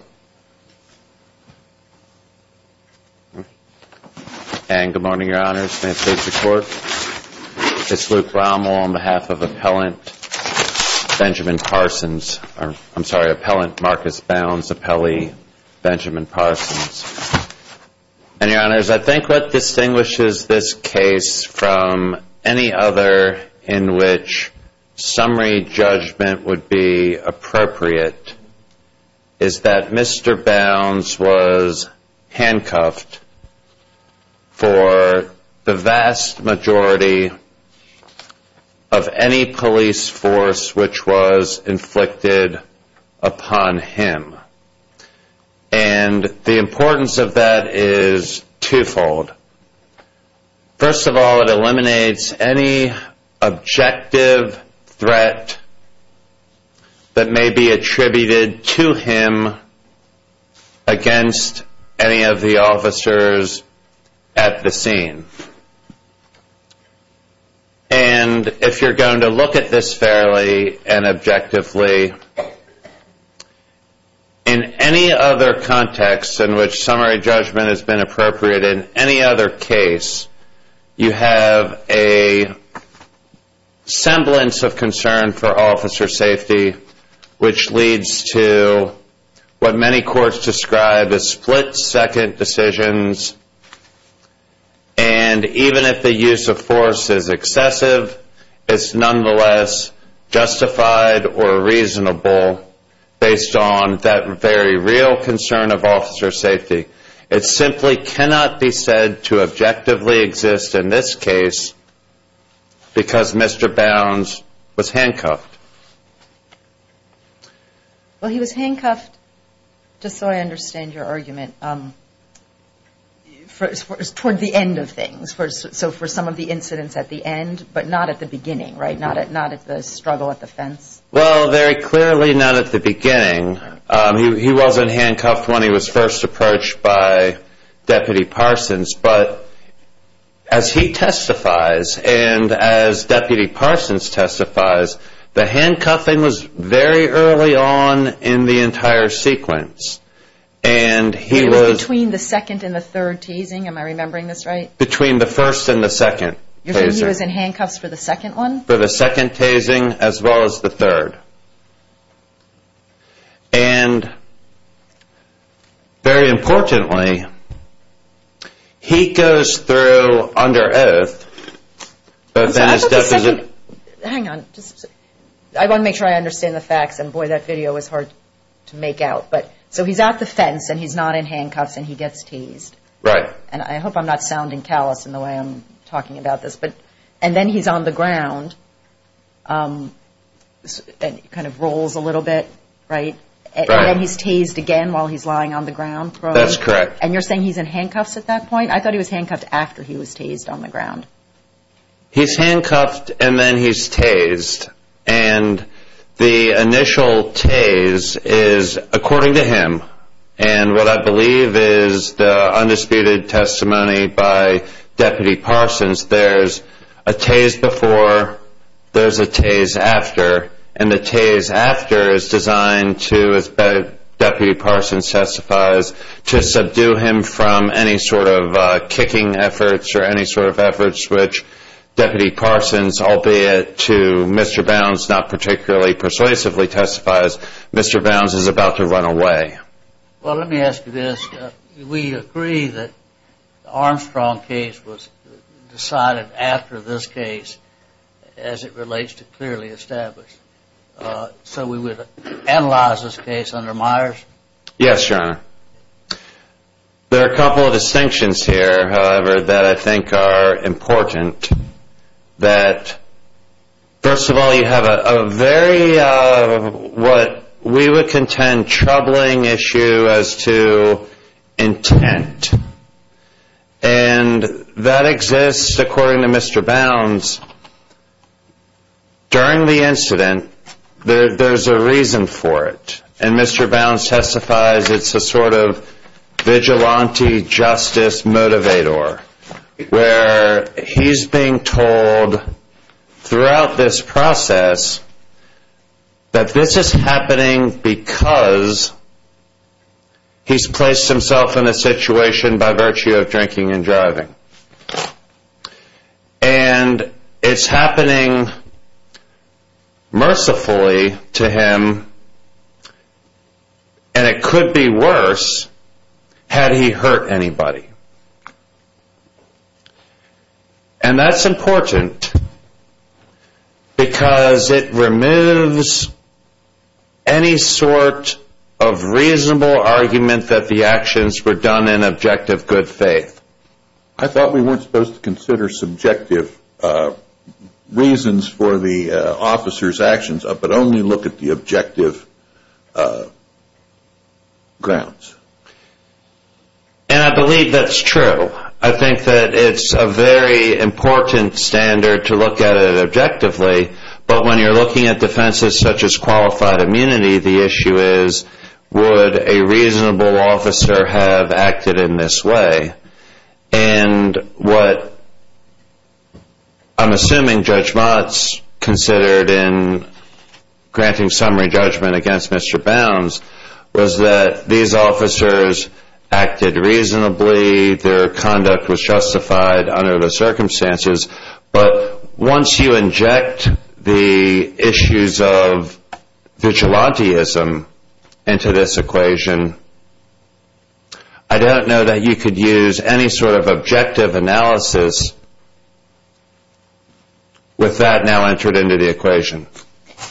I think what distinguishes this case from any other in which summary judgment would be appropriate is that Mr. Bounds was handcuffed for the vast majority of any police force which was inflicted upon him and the importance of that is twofold. First of all it eliminates any objective threat that may be attributed to him against any of the officers at the scene. And if you're going to look at this fairly and objectively, in any other context in which summary judgment has been appropriate in any other case, you have a semblance of concern for officer safety which leads to what many courts describe as split-second decisions and even if the use of force is excessive, it's nonetheless justified or cannot be said to objectively exist in this case because Mr. Bounds was handcuffed. Well he was handcuffed, just so I understand your argument, toward the end of things, so for some of the incidents at the end but not at the beginning, right? Not at the struggle at the fence? Well very clearly not at the beginning. He wasn't handcuffed when he was first approached by Deputy Parsons but as he testifies and as Deputy Parsons testifies, the handcuffing was very early on in the entire sequence and he was... Between the second and the third tasing, am I remembering this right? Between the first and the second tasing. You're saying he was in handcuffs for the second one? For the second tasing as well as the third. And very importantly, he goes through under oath... Hang on, I want to make sure I understand the facts and boy that video was hard to make out. So he's at the fence and he's not in handcuffs and he gets teased. Right. And I hope I'm not sounding callous in the way I'm talking about this. And then he's on the ground and kind of rolls a little bit, right? And then he's tased again while he's lying on the ground? That's correct. And you're saying he's in handcuffs at that point? I thought he was handcuffed after he was tased on the ground. He's handcuffed and then he's tased. And the initial tase is according to him. And what I believe is the undisputed testimony by Deputy Parsons, there's a tase before, there's a tase after. And the tase after is designed to, as Deputy Parsons testifies, to subdue him from any sort of kicking efforts or any sort of efforts which Deputy Parsons, albeit to Mr. Bounds, not particularly persuasively testifies, Mr. Bounds is about to run away. Well, let me ask you this. We agree that the Armstrong case was decided after this case as it relates to clearly established. So we would analyze this case under Myers? Yes, Your Honor. There are a couple of distinctions here, however, that I think are important. That, first of all, you have a very, what we would contend troubling issue as to intent. And that exists, according to Mr. Bounds, during the incident, there's a reason for it. And Mr. Bounds testifies it's a sort of vigilante justice motivator, where he's being told throughout this process that this is happening because he's placed himself in a situation by virtue of drinking and driving. And it's happening mercifully to him, and it could be worse had he hurt anybody. And that's important because it removes any sort of reasonable argument that the actions were done in objective good faith. I thought we weren't supposed to consider subjective reasons for the officer's actions, but only look at the objective grounds. And I believe that's true. I think that it's a very important standard to look at it objectively. But when you're looking at And what I'm assuming Judge Mott's considered in granting summary judgment against Mr. Bounds was that these officers acted reasonably, their conduct was justified under the circumstances. But once you inject the issues of vigilanteism into this sort of objective analysis, with that now entered into the equation.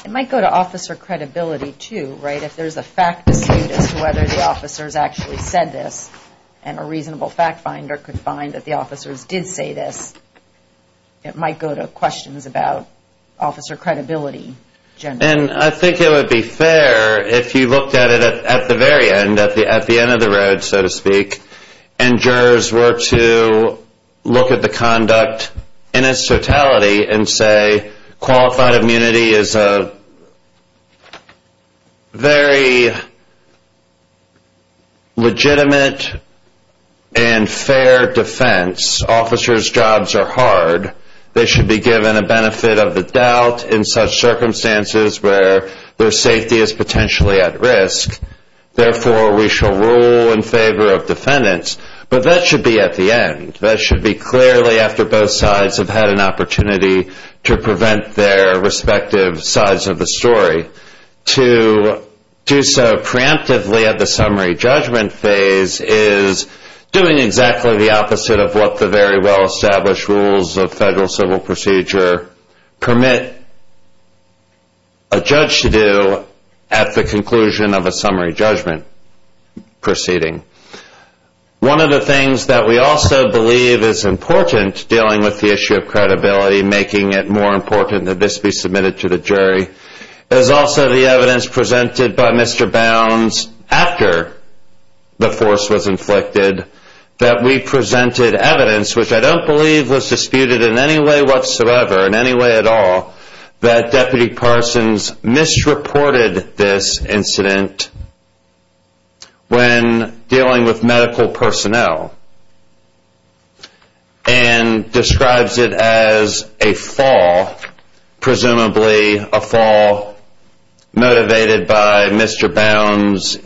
It might go to officer credibility, too, right? If there's a fact dispute as to whether the officers actually said this, and a reasonable fact finder could find that the officers did say this, it might go to questions about officer credibility. And I think it would be fair if you looked at it at the very end, at the end of the road, so to speak, and jurors were to look at the conduct in its totality and say qualified immunity is a very legitimate and fair defense. Officers' jobs are hard. They should be in circumstances where their safety is potentially at risk. Therefore, we shall rule in favor of defendants. But that should be at the end. That should be clearly after both sides have had an opportunity to prevent their respective sides of the story. To do so preemptively at the summary judgment phase is doing exactly the opposite of what the very well established rules of a judge should do at the conclusion of a summary judgment proceeding. One of the things that we also believe is important dealing with the issue of credibility, making it more important that this be submitted to the jury, is also the evidence presented by Mr. Bounds after the force was inflicted, that we presented evidence, which I don't believe was disputed in any way whatsoever, in any way at all, that Deputy Parsons misreported this incident when dealing with medical personnel and describes it as a fall, presumably a fall motivated by Mr. Bounds'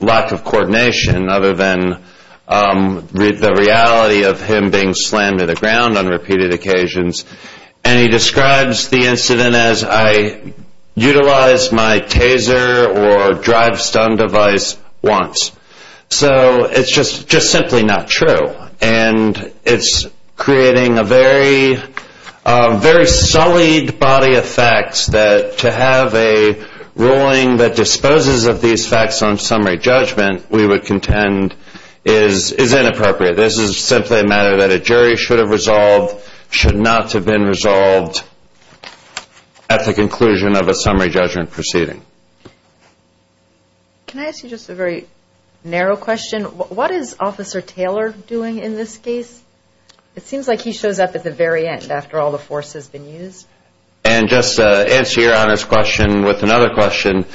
lack of coordination other than the reality of him being slammed to the ground on repeated occasions, and he describes the incident as, I utilized my taser or drive stun device once. So it's just simply not true. And it's creating a very sullied body of facts that to have a ruling that disposes of these facts on summary judgment, we would contend is inappropriate. This is simply a matter that a jury should have resolved, should not have been resolved at the conclusion of a summary judgment proceeding. Can I ask you just a very narrow question? What is Officer Taylor doing in this case? It seems like he shows up at the very end after all the force has been used. And just to answer your Honor's question with another question,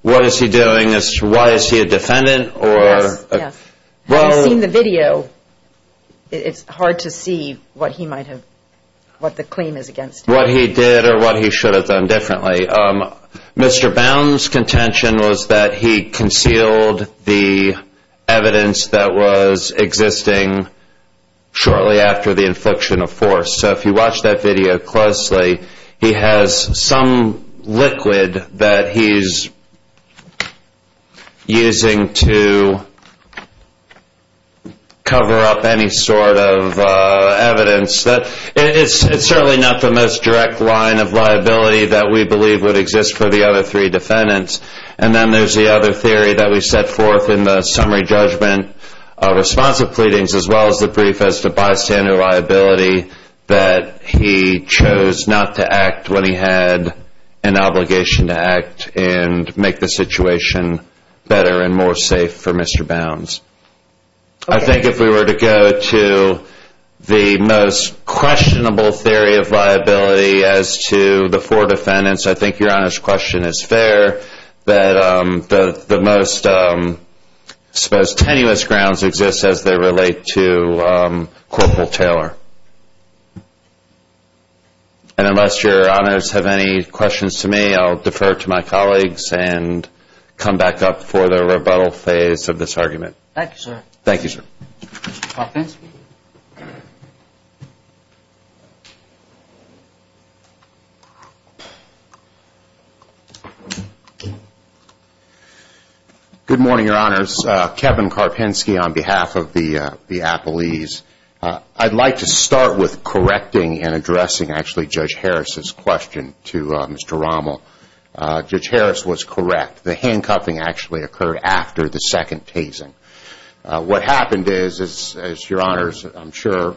what is he doing? Why is he a defendant? Yes, yes. Having seen the video, it's hard to see what he might have, what the claim is against him. What he did or what he should have done differently. Mr. Bounds' contention was that he concealed the evidence that was existing shortly after the infliction of force. So if you watch that video closely, he has some liquid that he's using to cover up any sort of evidence that it's certainly not the most direct line of liability that we believe would exist for the other three defendants. And then there's the other theory that we set forth in the summary judgment response of pleadings as well as the brief as to bystander liability that he chose not to act when he had an obligation to act and make the situation better and more safe for Mr. Bounds. I think if we were to go to the most questionable theory of liability as to the four defendants, I think your Honor's question is fair that the most tenuous grounds exist as they relate to Corporal Taylor. And unless your Honor's have any questions to me, I'll defer to my colleagues and come back up for the rebuttal phase of this argument. Thank you, sir. Mr. Karpinski? Good morning, Your Honors. Kevin Karpinski on behalf of the appellees. I'd like to start with correcting and addressing actually Judge Harris' question to Mr. Rommel. Judge Harris was correct. The handcuffing actually occurred after the second tasing. What happened is, as your Honor's I'm sure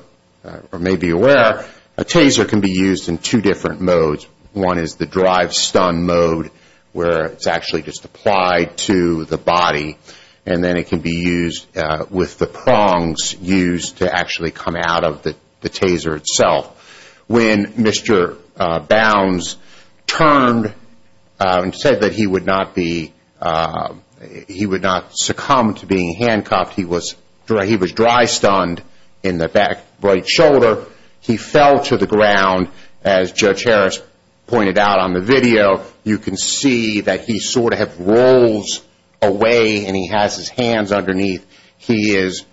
may be aware, a taser can be used in two different modes. One is the drive-stun mode where it's actually just applied to the body and then it can be used with the prongs used to actually come out of the taser itself. When Mr. Bounds turned and said that he would not succumb to being handcuffed, he was drive-stunned in the back right shoulder. He fell to the ground as Judge Harris pointed out on the video. You can see that he sort of rolls away and he has his hands underneath. He is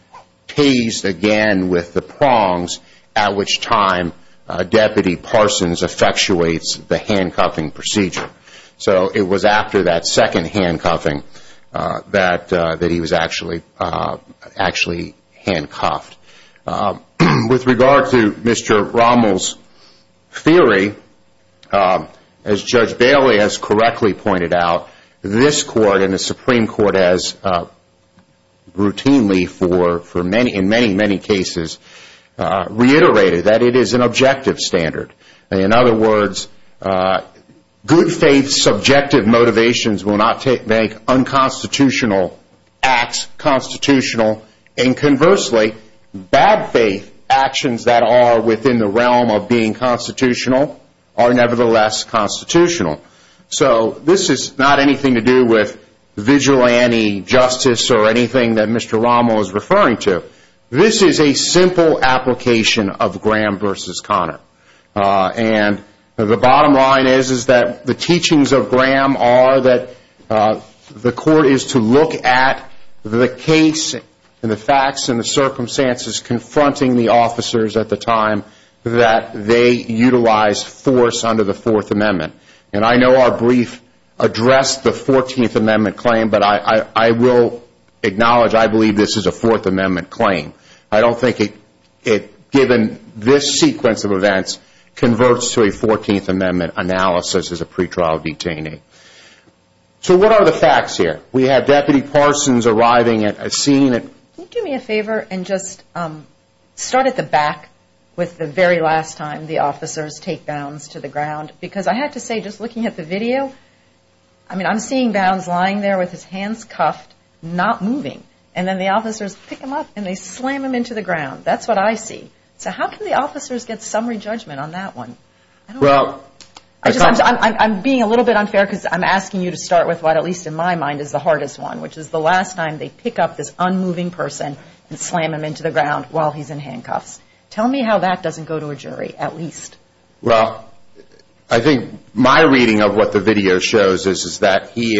tased again with the prongs at which time Deputy Parsons effectuates the handcuffing procedure. It was after that second handcuffing that he was actually handcuffed. With regard to Mr. Rommel's theory, as Judge Bailey has correctly pointed out, this Court and the Supreme Court has routinely, in many cases, reiterated that it is an objective standard. In other words, good faith subjective motivations will not make unconstitutional acts constitutional and conversely, bad faith actions that are within the realm of being constitutional are nevertheless constitutional. This is not anything to do with vigilante justice or anything that Mr. Rommel is referring to. This is a simple application of Graham v. Connor. The bottom line is that the teachings of Graham are that the Court is to look at the case and the facts and the circumstances confronting the officers at the time that they utilized force under the Fourth Amendment. I know our brief addressed the Fourteenth Amendment claim, but I will acknowledge that I believe this is a Fourth Amendment claim. I don't think it, given this sequence of events, converts to a Fourteenth Amendment analysis as a pretrial detainee. So what are the facts here? We have Deputy Parsons arriving at a scene. Can you do me a favor and just start at the back with the very last time the officers take bounds to the ground? Because I have to say, just looking at the video, I mean, I'm seeing bounds lying there with his hands cuffed, not moving. And then the officers pick him up and they slam him into the ground. That's what I see. So how can the officers get summary judgment on that one? I'm being a little bit unfair because I'm asking you to start with what, at least in my mind, is the hardest one, which is the last time they pick up this unmoving person and slam him into the ground while he's in handcuffs. Tell me how that doesn't go to a jury, at least. Well, I think my reading of what the video shows is that he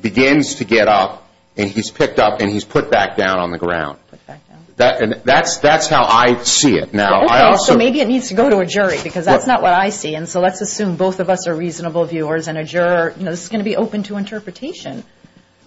begins to get up and he's picked up and he's put back down on the ground. That's how I see it. Okay, so maybe it needs to go to a jury because that's not what I see. And so let's assume both of us are reasonable viewers and a juror is going to be open to interpretation.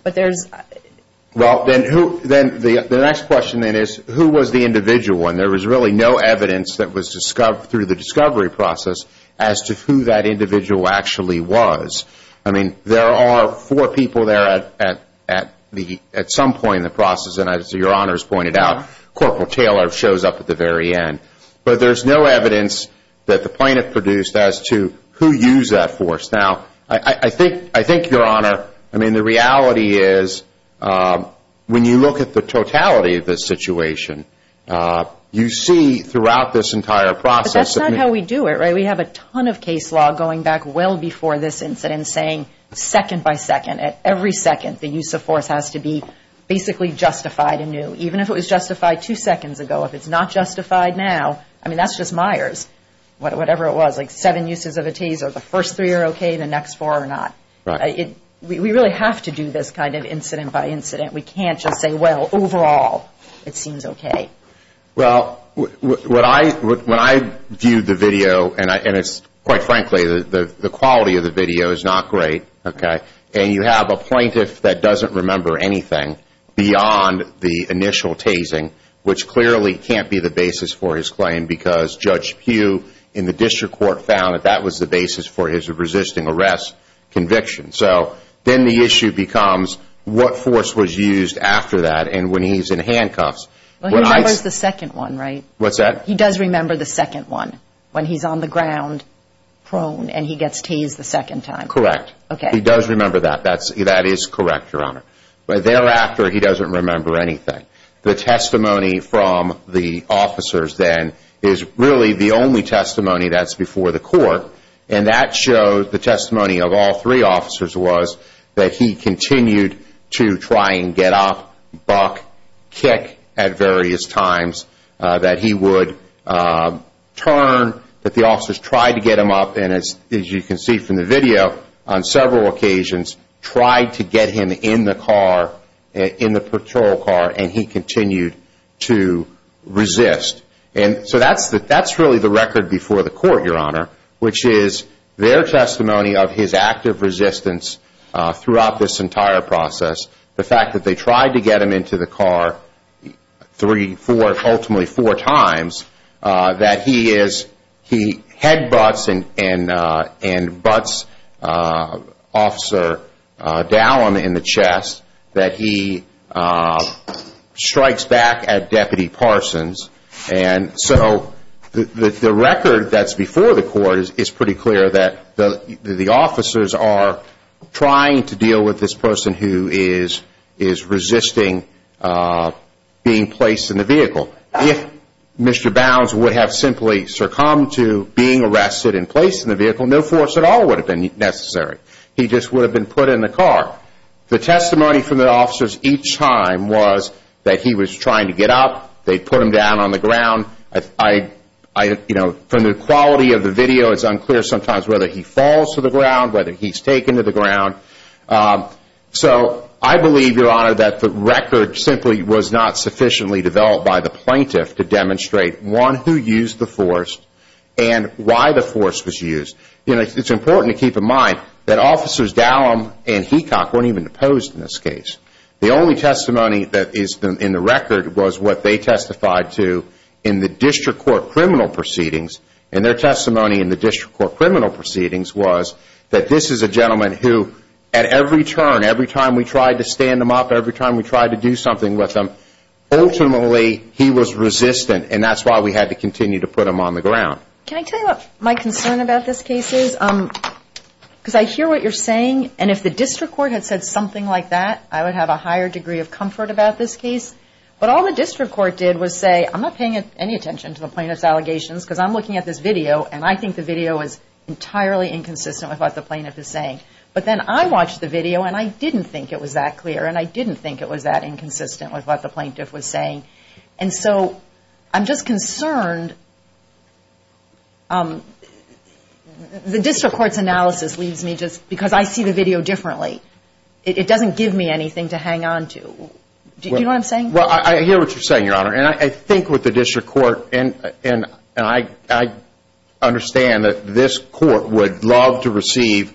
Well, then the next question is, who was the individual? And there was really no evidence that was discovered through the discovery process as to who that individual actually was. I mean, there are four people there at some point in the process, and as Your Honor has pointed out, Corporal Taylor shows up at the very end. But there's no evidence that the plaintiff produced as to who used that force. Now, I think, Your Honor, I mean, the reality is when you look at the totality of this situation, you see throughout this entire process... I mean, we've been saying second by second, at every second, the use of force has to be basically justified anew. Even if it was justified two seconds ago, if it's not justified now, I mean, that's just Myers. Whatever it was, like seven uses of a Taser, the first three are okay, the next four are not. We really have to do this kind of incident by incident. We can't just say, well, overall, it seems okay. Well, when I viewed the video, and quite frankly, the quality of the video is not great, okay? And you have a plaintiff that doesn't remember anything beyond the initial Tasing, which clearly can't be the basis for his claim because Judge Pugh in the District Court found that that was the basis for his resisting arrest conviction. So then the issue becomes what force was used after that and when he's in handcuffs. Well, he remembers the second one, right? What's that? He does remember the second one, when he's on the ground, prone, and he gets tased the second time. Correct. Okay. He does remember that. That is correct, Your Honor. But thereafter, he doesn't remember anything. The testimony from the officers, then, is really the only testimony that's before the court. And that shows the testimony of all three officers was that he continued to try and get up, buck, kick at various times, that he would turn, that the officers tried to get him up, and as you can see from the video, on several occasions, tried to get him in the car, in the patrol car, and he continued to resist. So that's really the record before the court, Your Honor, which is their testimony of his active resistance throughout this entire process, the fact that they tried to get him into the car three, four, ultimately four times, that he headbutts and butts Officer Dallin in the chest, that he strikes back at Deputy Parsons. And so the record that's before the court is pretty clear that the officers are trying to deal with this person who is resisting being placed in the vehicle. If Mr. Bounds would have simply succumbed to being arrested and placed in the vehicle, no force at all would have been necessary. He just would have been put in the car. The testimony from the officers each time was that he was trying to get up, they put him down on the ground. From the quality of the video, it's unclear sometimes whether he falls to the ground, whether he's taken to the ground. So I believe, Your Honor, that the record simply was not sufficiently developed by the plaintiff to demonstrate one who used the force and why the force was used. It's important to keep in mind that Officers Dallin and Hecock weren't even opposed in this case. The only testimony that is in the record was what they testified to in the district court criminal proceedings, and their testimony in the district court criminal proceedings was that this is a gentleman who, at every turn, every time we tried to stand him up, every time we tried to do something with him, ultimately he was resistant, and that's why we had to continue to put him on the ground. Can I tell you what my concern about this case is? Because I hear what you're saying, and if the district court had said something like that, I would have a higher degree of comfort about this case. But all the district court did was say, I'm not paying any attention to the plaintiff's allegations because I'm looking at this video, and I think the video is entirely inconsistent with what the plaintiff is saying. But then I watched the video, and I didn't think it was that clear, and I didn't think it was that inconsistent with what the plaintiff was saying. And so I'm just concerned. The district court's analysis leaves me just, because I see the video differently, it doesn't give me anything to hang on to. Do you know what I'm saying? Well, I hear what you're saying, Your Honor, and I think with the district court, and I understand that this court would love to receive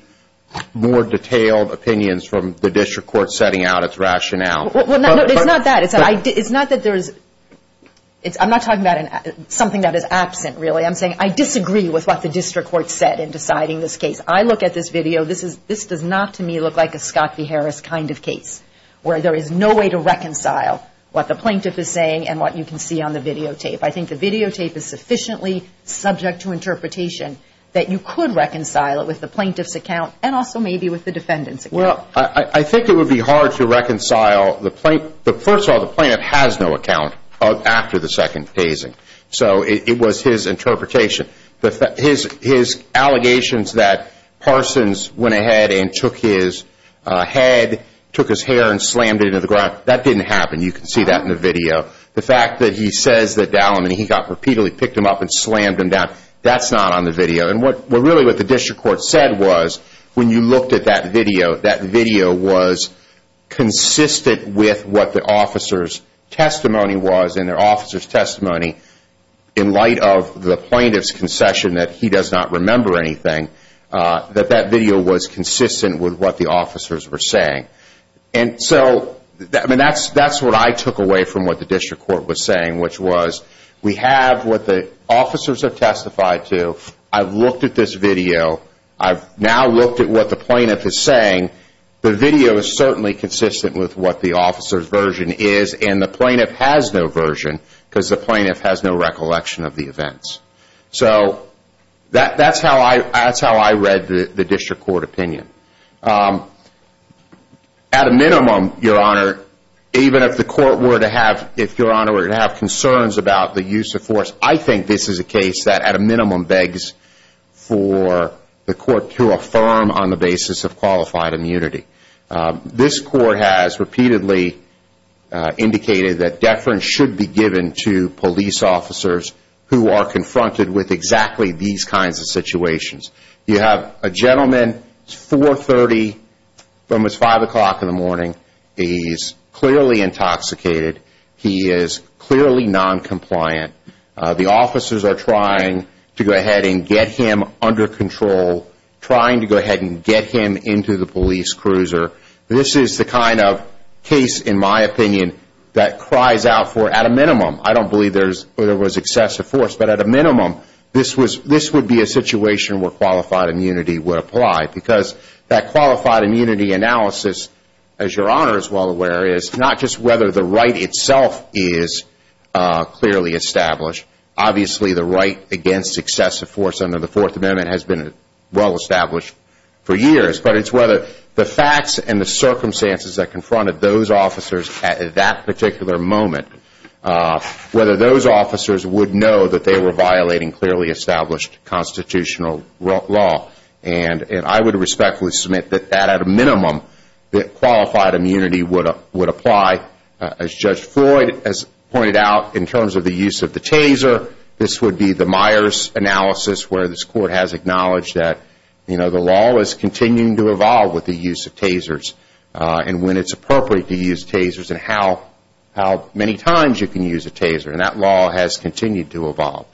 more detailed opinions from the district court setting out its rationale. Well, no, it's not that. It's not that there is, I'm not talking about something that is absent, really. I'm saying I disagree with what the district court said in deciding this case. I look at this video, this does not to me look like a Scott v. Harris kind of case, where there is no way to reconcile what the plaintiff is saying and what you can see on the videotape. I think the videotape is sufficiently subject to interpretation that you could reconcile it with the plaintiff's account and also maybe with the defendant's account. Well, I think it would be hard to reconcile the plaintiff, but first of all, the plaintiff has no account after the second phasing. So it was his interpretation. His allegations that Parsons went ahead and took his head, took his hair and slammed it into the ground, that didn't happen. You can see that in the video. The fact that he says that Dalleman, he got repeatedly picked him up and slammed him down, that's not on the video. And really what the district court said was when you looked at that video, that video was consistent with what the officer's testimony was in light of the plaintiff's concession that he does not remember anything, that that video was consistent with what the officers were saying. And so that's what I took away from what the district court was saying, which was we have what the officers have testified to. I've looked at this video. I've now looked at what the plaintiff is saying. The video is certainly consistent with what the officer's version is and the plaintiff has no version because the plaintiff has no recollection of the events. So that's how I read the district court opinion. At a minimum, your honor, even if the court were to have, if your honor were to have concerns about the use of force, I think this is a case that at a minimum begs for the court to affirm on the basis of qualified immunity. This court has repeatedly indicated that deference should be given to police officers who are confronted with exactly these kinds of situations. You have a gentleman, it's 4.30, almost 5 o'clock in the morning. He's clearly intoxicated. He is clearly noncompliant. The officers are trying to go ahead and get him under control, trying to go ahead and get him into the police cruiser. This is the kind of case, in my opinion, that cries out for at a minimum. I don't believe there was excessive force, but at a minimum, this would be a situation where qualified immunity would apply because that qualified immunity analysis, as your honor is well aware, is not just whether the right itself is clearly established. Obviously, the right against excessive force under the Fourth Amendment has been well established for years, but it's whether the facts and the circumstances that confronted those officers at that particular moment, whether those officers would know that they were violating clearly established constitutional law. I would respectfully submit that at a minimum, that qualified immunity would apply. As Judge Floyd has pointed out, in terms of the use of the taser, this would be the Myers analysis where this court has acknowledged that the law is continuing to evolve with the use of tasers and when it's appropriate to use tasers and how many times you can use a taser. That law has continued to evolve.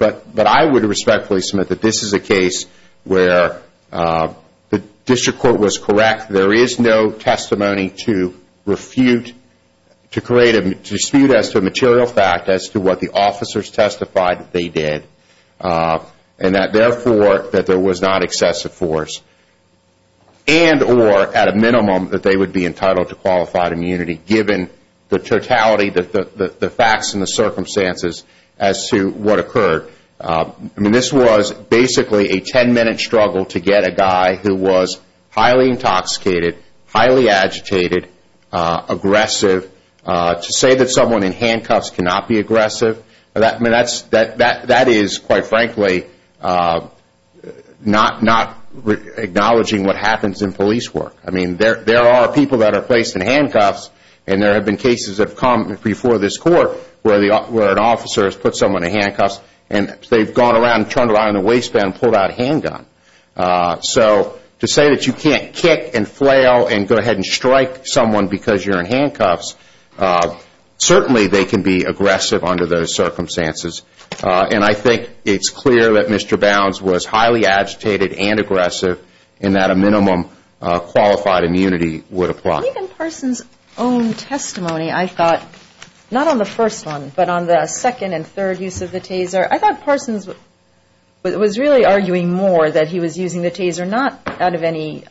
I would respectfully submit that this is a case where the district court was correct. There is no testimony to dispute as to a material fact as to what the officers testified that they did and that, therefore, that there was not excessive force. And or, at a minimum, that they would be entitled to qualified immunity given the totality, the facts and the circumstances as to what occurred. I mean, this was basically a 10-minute struggle to get a guy who was highly intoxicated, highly agitated, aggressive, to say that someone in handcuffs cannot be aggressive. That is, quite frankly, not acknowledging what happens in police work. I mean, there are people that are placed in handcuffs and there have been cases that have come before this court where an officer has put someone in handcuffs and they've gone around and turned around in a waistband and pulled out a handgun. So to say that you can't kick and flail and go ahead and strike someone because you're in handcuffs, certainly they can be aggressive under those circumstances. And I think it's clear that Mr. Bounds was highly agitated and aggressive in that a minimum qualified immunity would apply. Even Parsons' own testimony, I thought, not on the first one, but on the second and third use of the taser, I thought Parsons was really arguing more that he was using the taser not out of any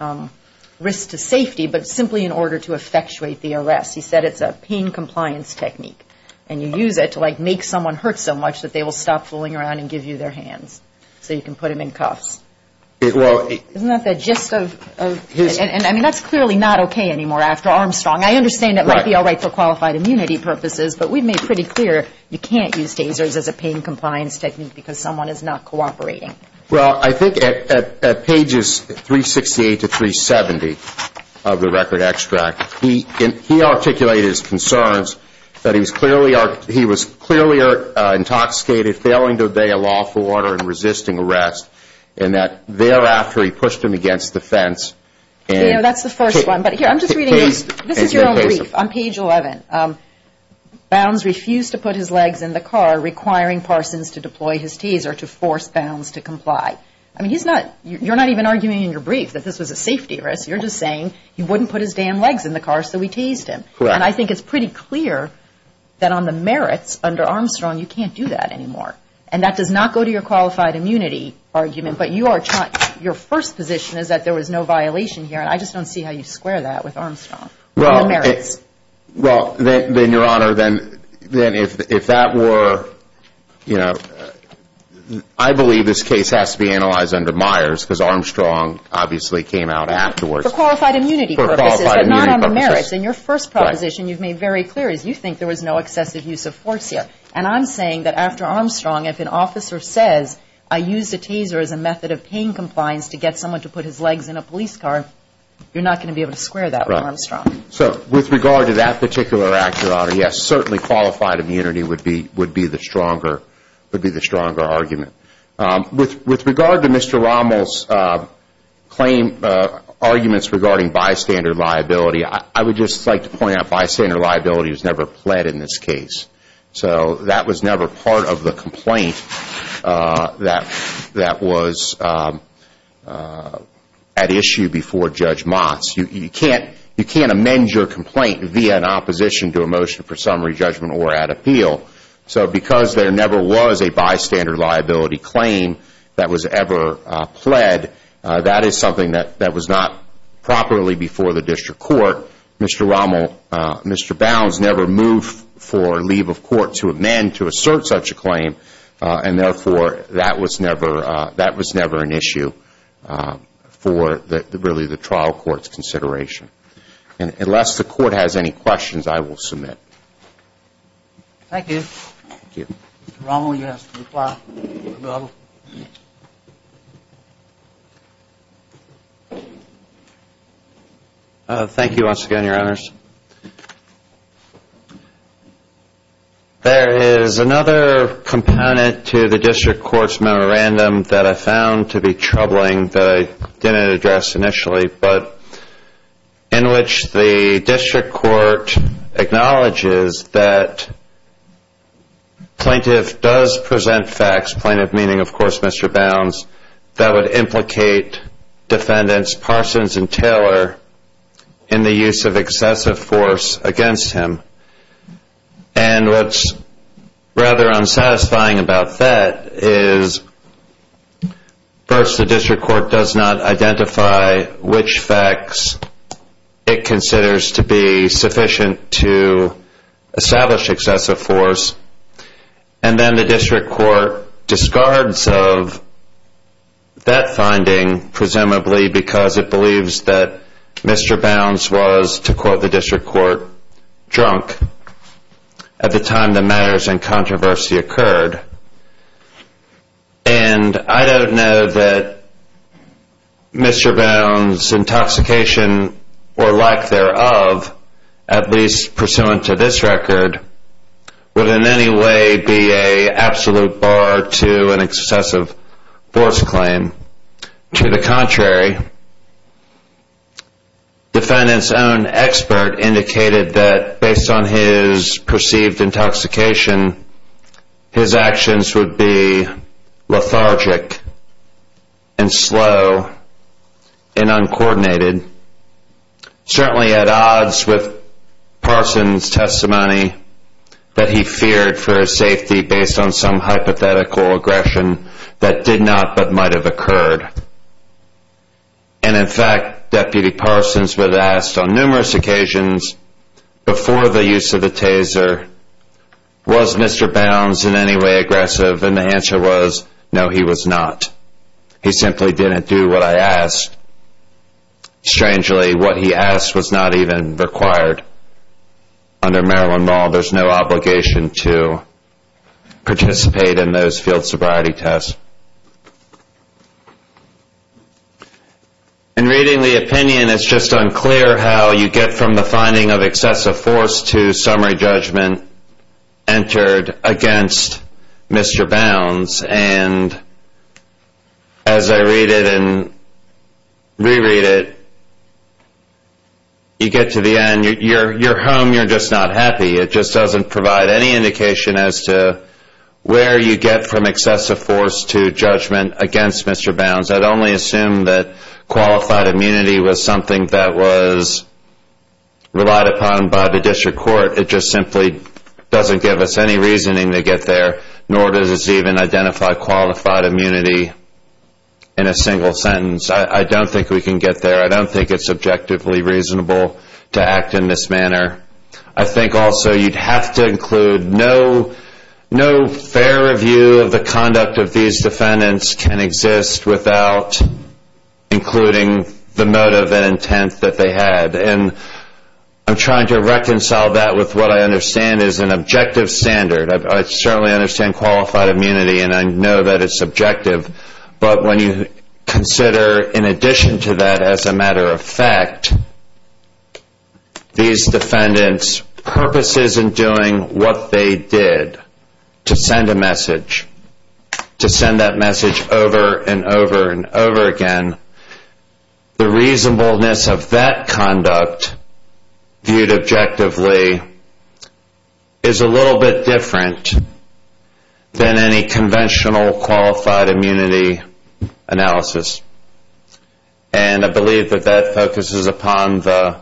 risk to safety, but simply in order to effectuate the arrest. He said it's a pain compliance technique and you use it to make someone hurt so much that they will stop fooling around and give you their hands so you can put them in cuffs. Isn't that the gist of it? I mean, that's clearly not okay anymore after Armstrong. I understand it might be all right for qualified immunity purposes, but we've made pretty clear you can't use tasers as a pain compliance technique because someone is not cooperating. Well, I think at pages 368 to 370 of the record extract, he articulated his concerns that he was clearly intoxicated, failing to obey a lawful order and resisting arrest, and that thereafter he pushed him against the fence. That's the first one. This is your own brief on page 11. Bounds refused to put his legs in the car requiring Parsons to deploy his taser to force Bounds to comply. You're not even arguing in your brief that this was a safety risk. You're just saying he wouldn't put his damn legs in the car so we tased him. Correct. And I think it's pretty clear that on the merits under Armstrong you can't do that anymore. And that does not go to your qualified immunity argument, but your first position is that there was no violation here and I just don't see how you square that with Armstrong. Well, then, Your Honor, if that were, you know, I believe this case has to be analyzed under Myers because Armstrong obviously came out afterwards. For qualified immunity purposes, but not on the merits. In your first proposition, you've made very clear that you think there was no excessive use of force here. And I'm saying that after Armstrong, if an officer says, I used a taser as a method of pain compliance to get someone to put his legs in a police car, you're not going to be able to square that with Armstrong. So with regard to that particular act, Your Honor, yes, certainly qualified immunity would be the stronger argument. With regard to Mr. Rommel's claim, arguments regarding bystander liability, I would just like to point out bystander liability was never pled in this case. So that was never part of the complaint that was at issue before Judge Motz. You can't amend your complaint via an opposition to a motion for summary judgment or at appeal. So because there never was a bystander liability claim that was ever pled, that is something that was not properly before the district court. Mr. Rommel, Mr. Bounds never moved for leave of court to amend to assert such a claim. And therefore, that was never an issue for really the trial court's consideration. Unless the court has any questions, I will submit. Thank you. Mr. Rommel, you have to reply. Thank you once again, Your Honors. There is another component to the district court's memorandum that I found to be troubling that I didn't address initially, but in which the district court acknowledges that plaintiff does present facts, plaintiff meaning, of course, Mr. Bounds, that would implicate defendants Parsons and Taylor in the use of excessive force against him. And what's rather unsatisfying about that is first, the district court does not identify which facts it considers to be sufficient to establish excessive force, and then the district court discards of that finding, presumably because it believes that Mr. Bounds was, to quote the district court, drunk at the time the matters and controversy occurred. And I don't know that Mr. Bounds' intoxication, or lack thereof, at least pursuant to this record, would in any way be an absolute bar to an excessive force claim. To the contrary, defendant's own expert indicated that based on his perceived intoxication, his actions would be lethargic and slow and uncoordinated, certainly at odds with Parsons' testimony that he feared for his safety based on some hypothetical aggression that did not but might have occurred. And in fact, Deputy Parsons was asked on numerous occasions before the use of the taser, was Mr. Bounds in any way aggressive? And the answer was, no, he was not. He simply didn't do what I asked. Strangely, what he asked was not even required under Maryland law. There's no obligation to participate in those field sobriety tests. In reading the opinion, it's just unclear how you get from the finding of excessive force to summary judgment entered against Mr. Bounds, and as I read it and reread it, you get to the end. You're home, you're just not happy. It just doesn't provide any indication as to where you get from excessive force to judgment against Mr. Bounds. I'd only assume that qualified immunity was something that was relied upon by the district court. It just simply doesn't give us any reasoning to get there, nor does it even identify qualified immunity in a single sentence. I don't think we can get there. I don't think it's objectively reasonable to act in this manner. I think also you'd have to include no fair review of the conduct of these defendants can exist without including the motive and intent that they had, and I'm trying to reconcile that with what I understand is an objective standard. I certainly understand qualified immunity and I know that it's objective, but when you consider, in addition to that, as a matter of fact, these defendants purposes in doing what they did to send a message, to send that message over and over and over again, the reasonableness of that conduct, viewed objectively, is a little bit different than any conventional qualified immunity analysis. And I believe that that focuses upon the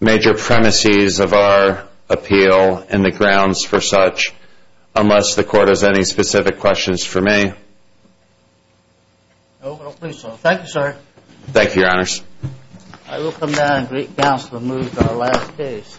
major premises of our appeal and the grounds for such, unless the court has any specific questions for me. Thank you, sir. Thank you, your honors. I will come down and greet counsel and move to our last case.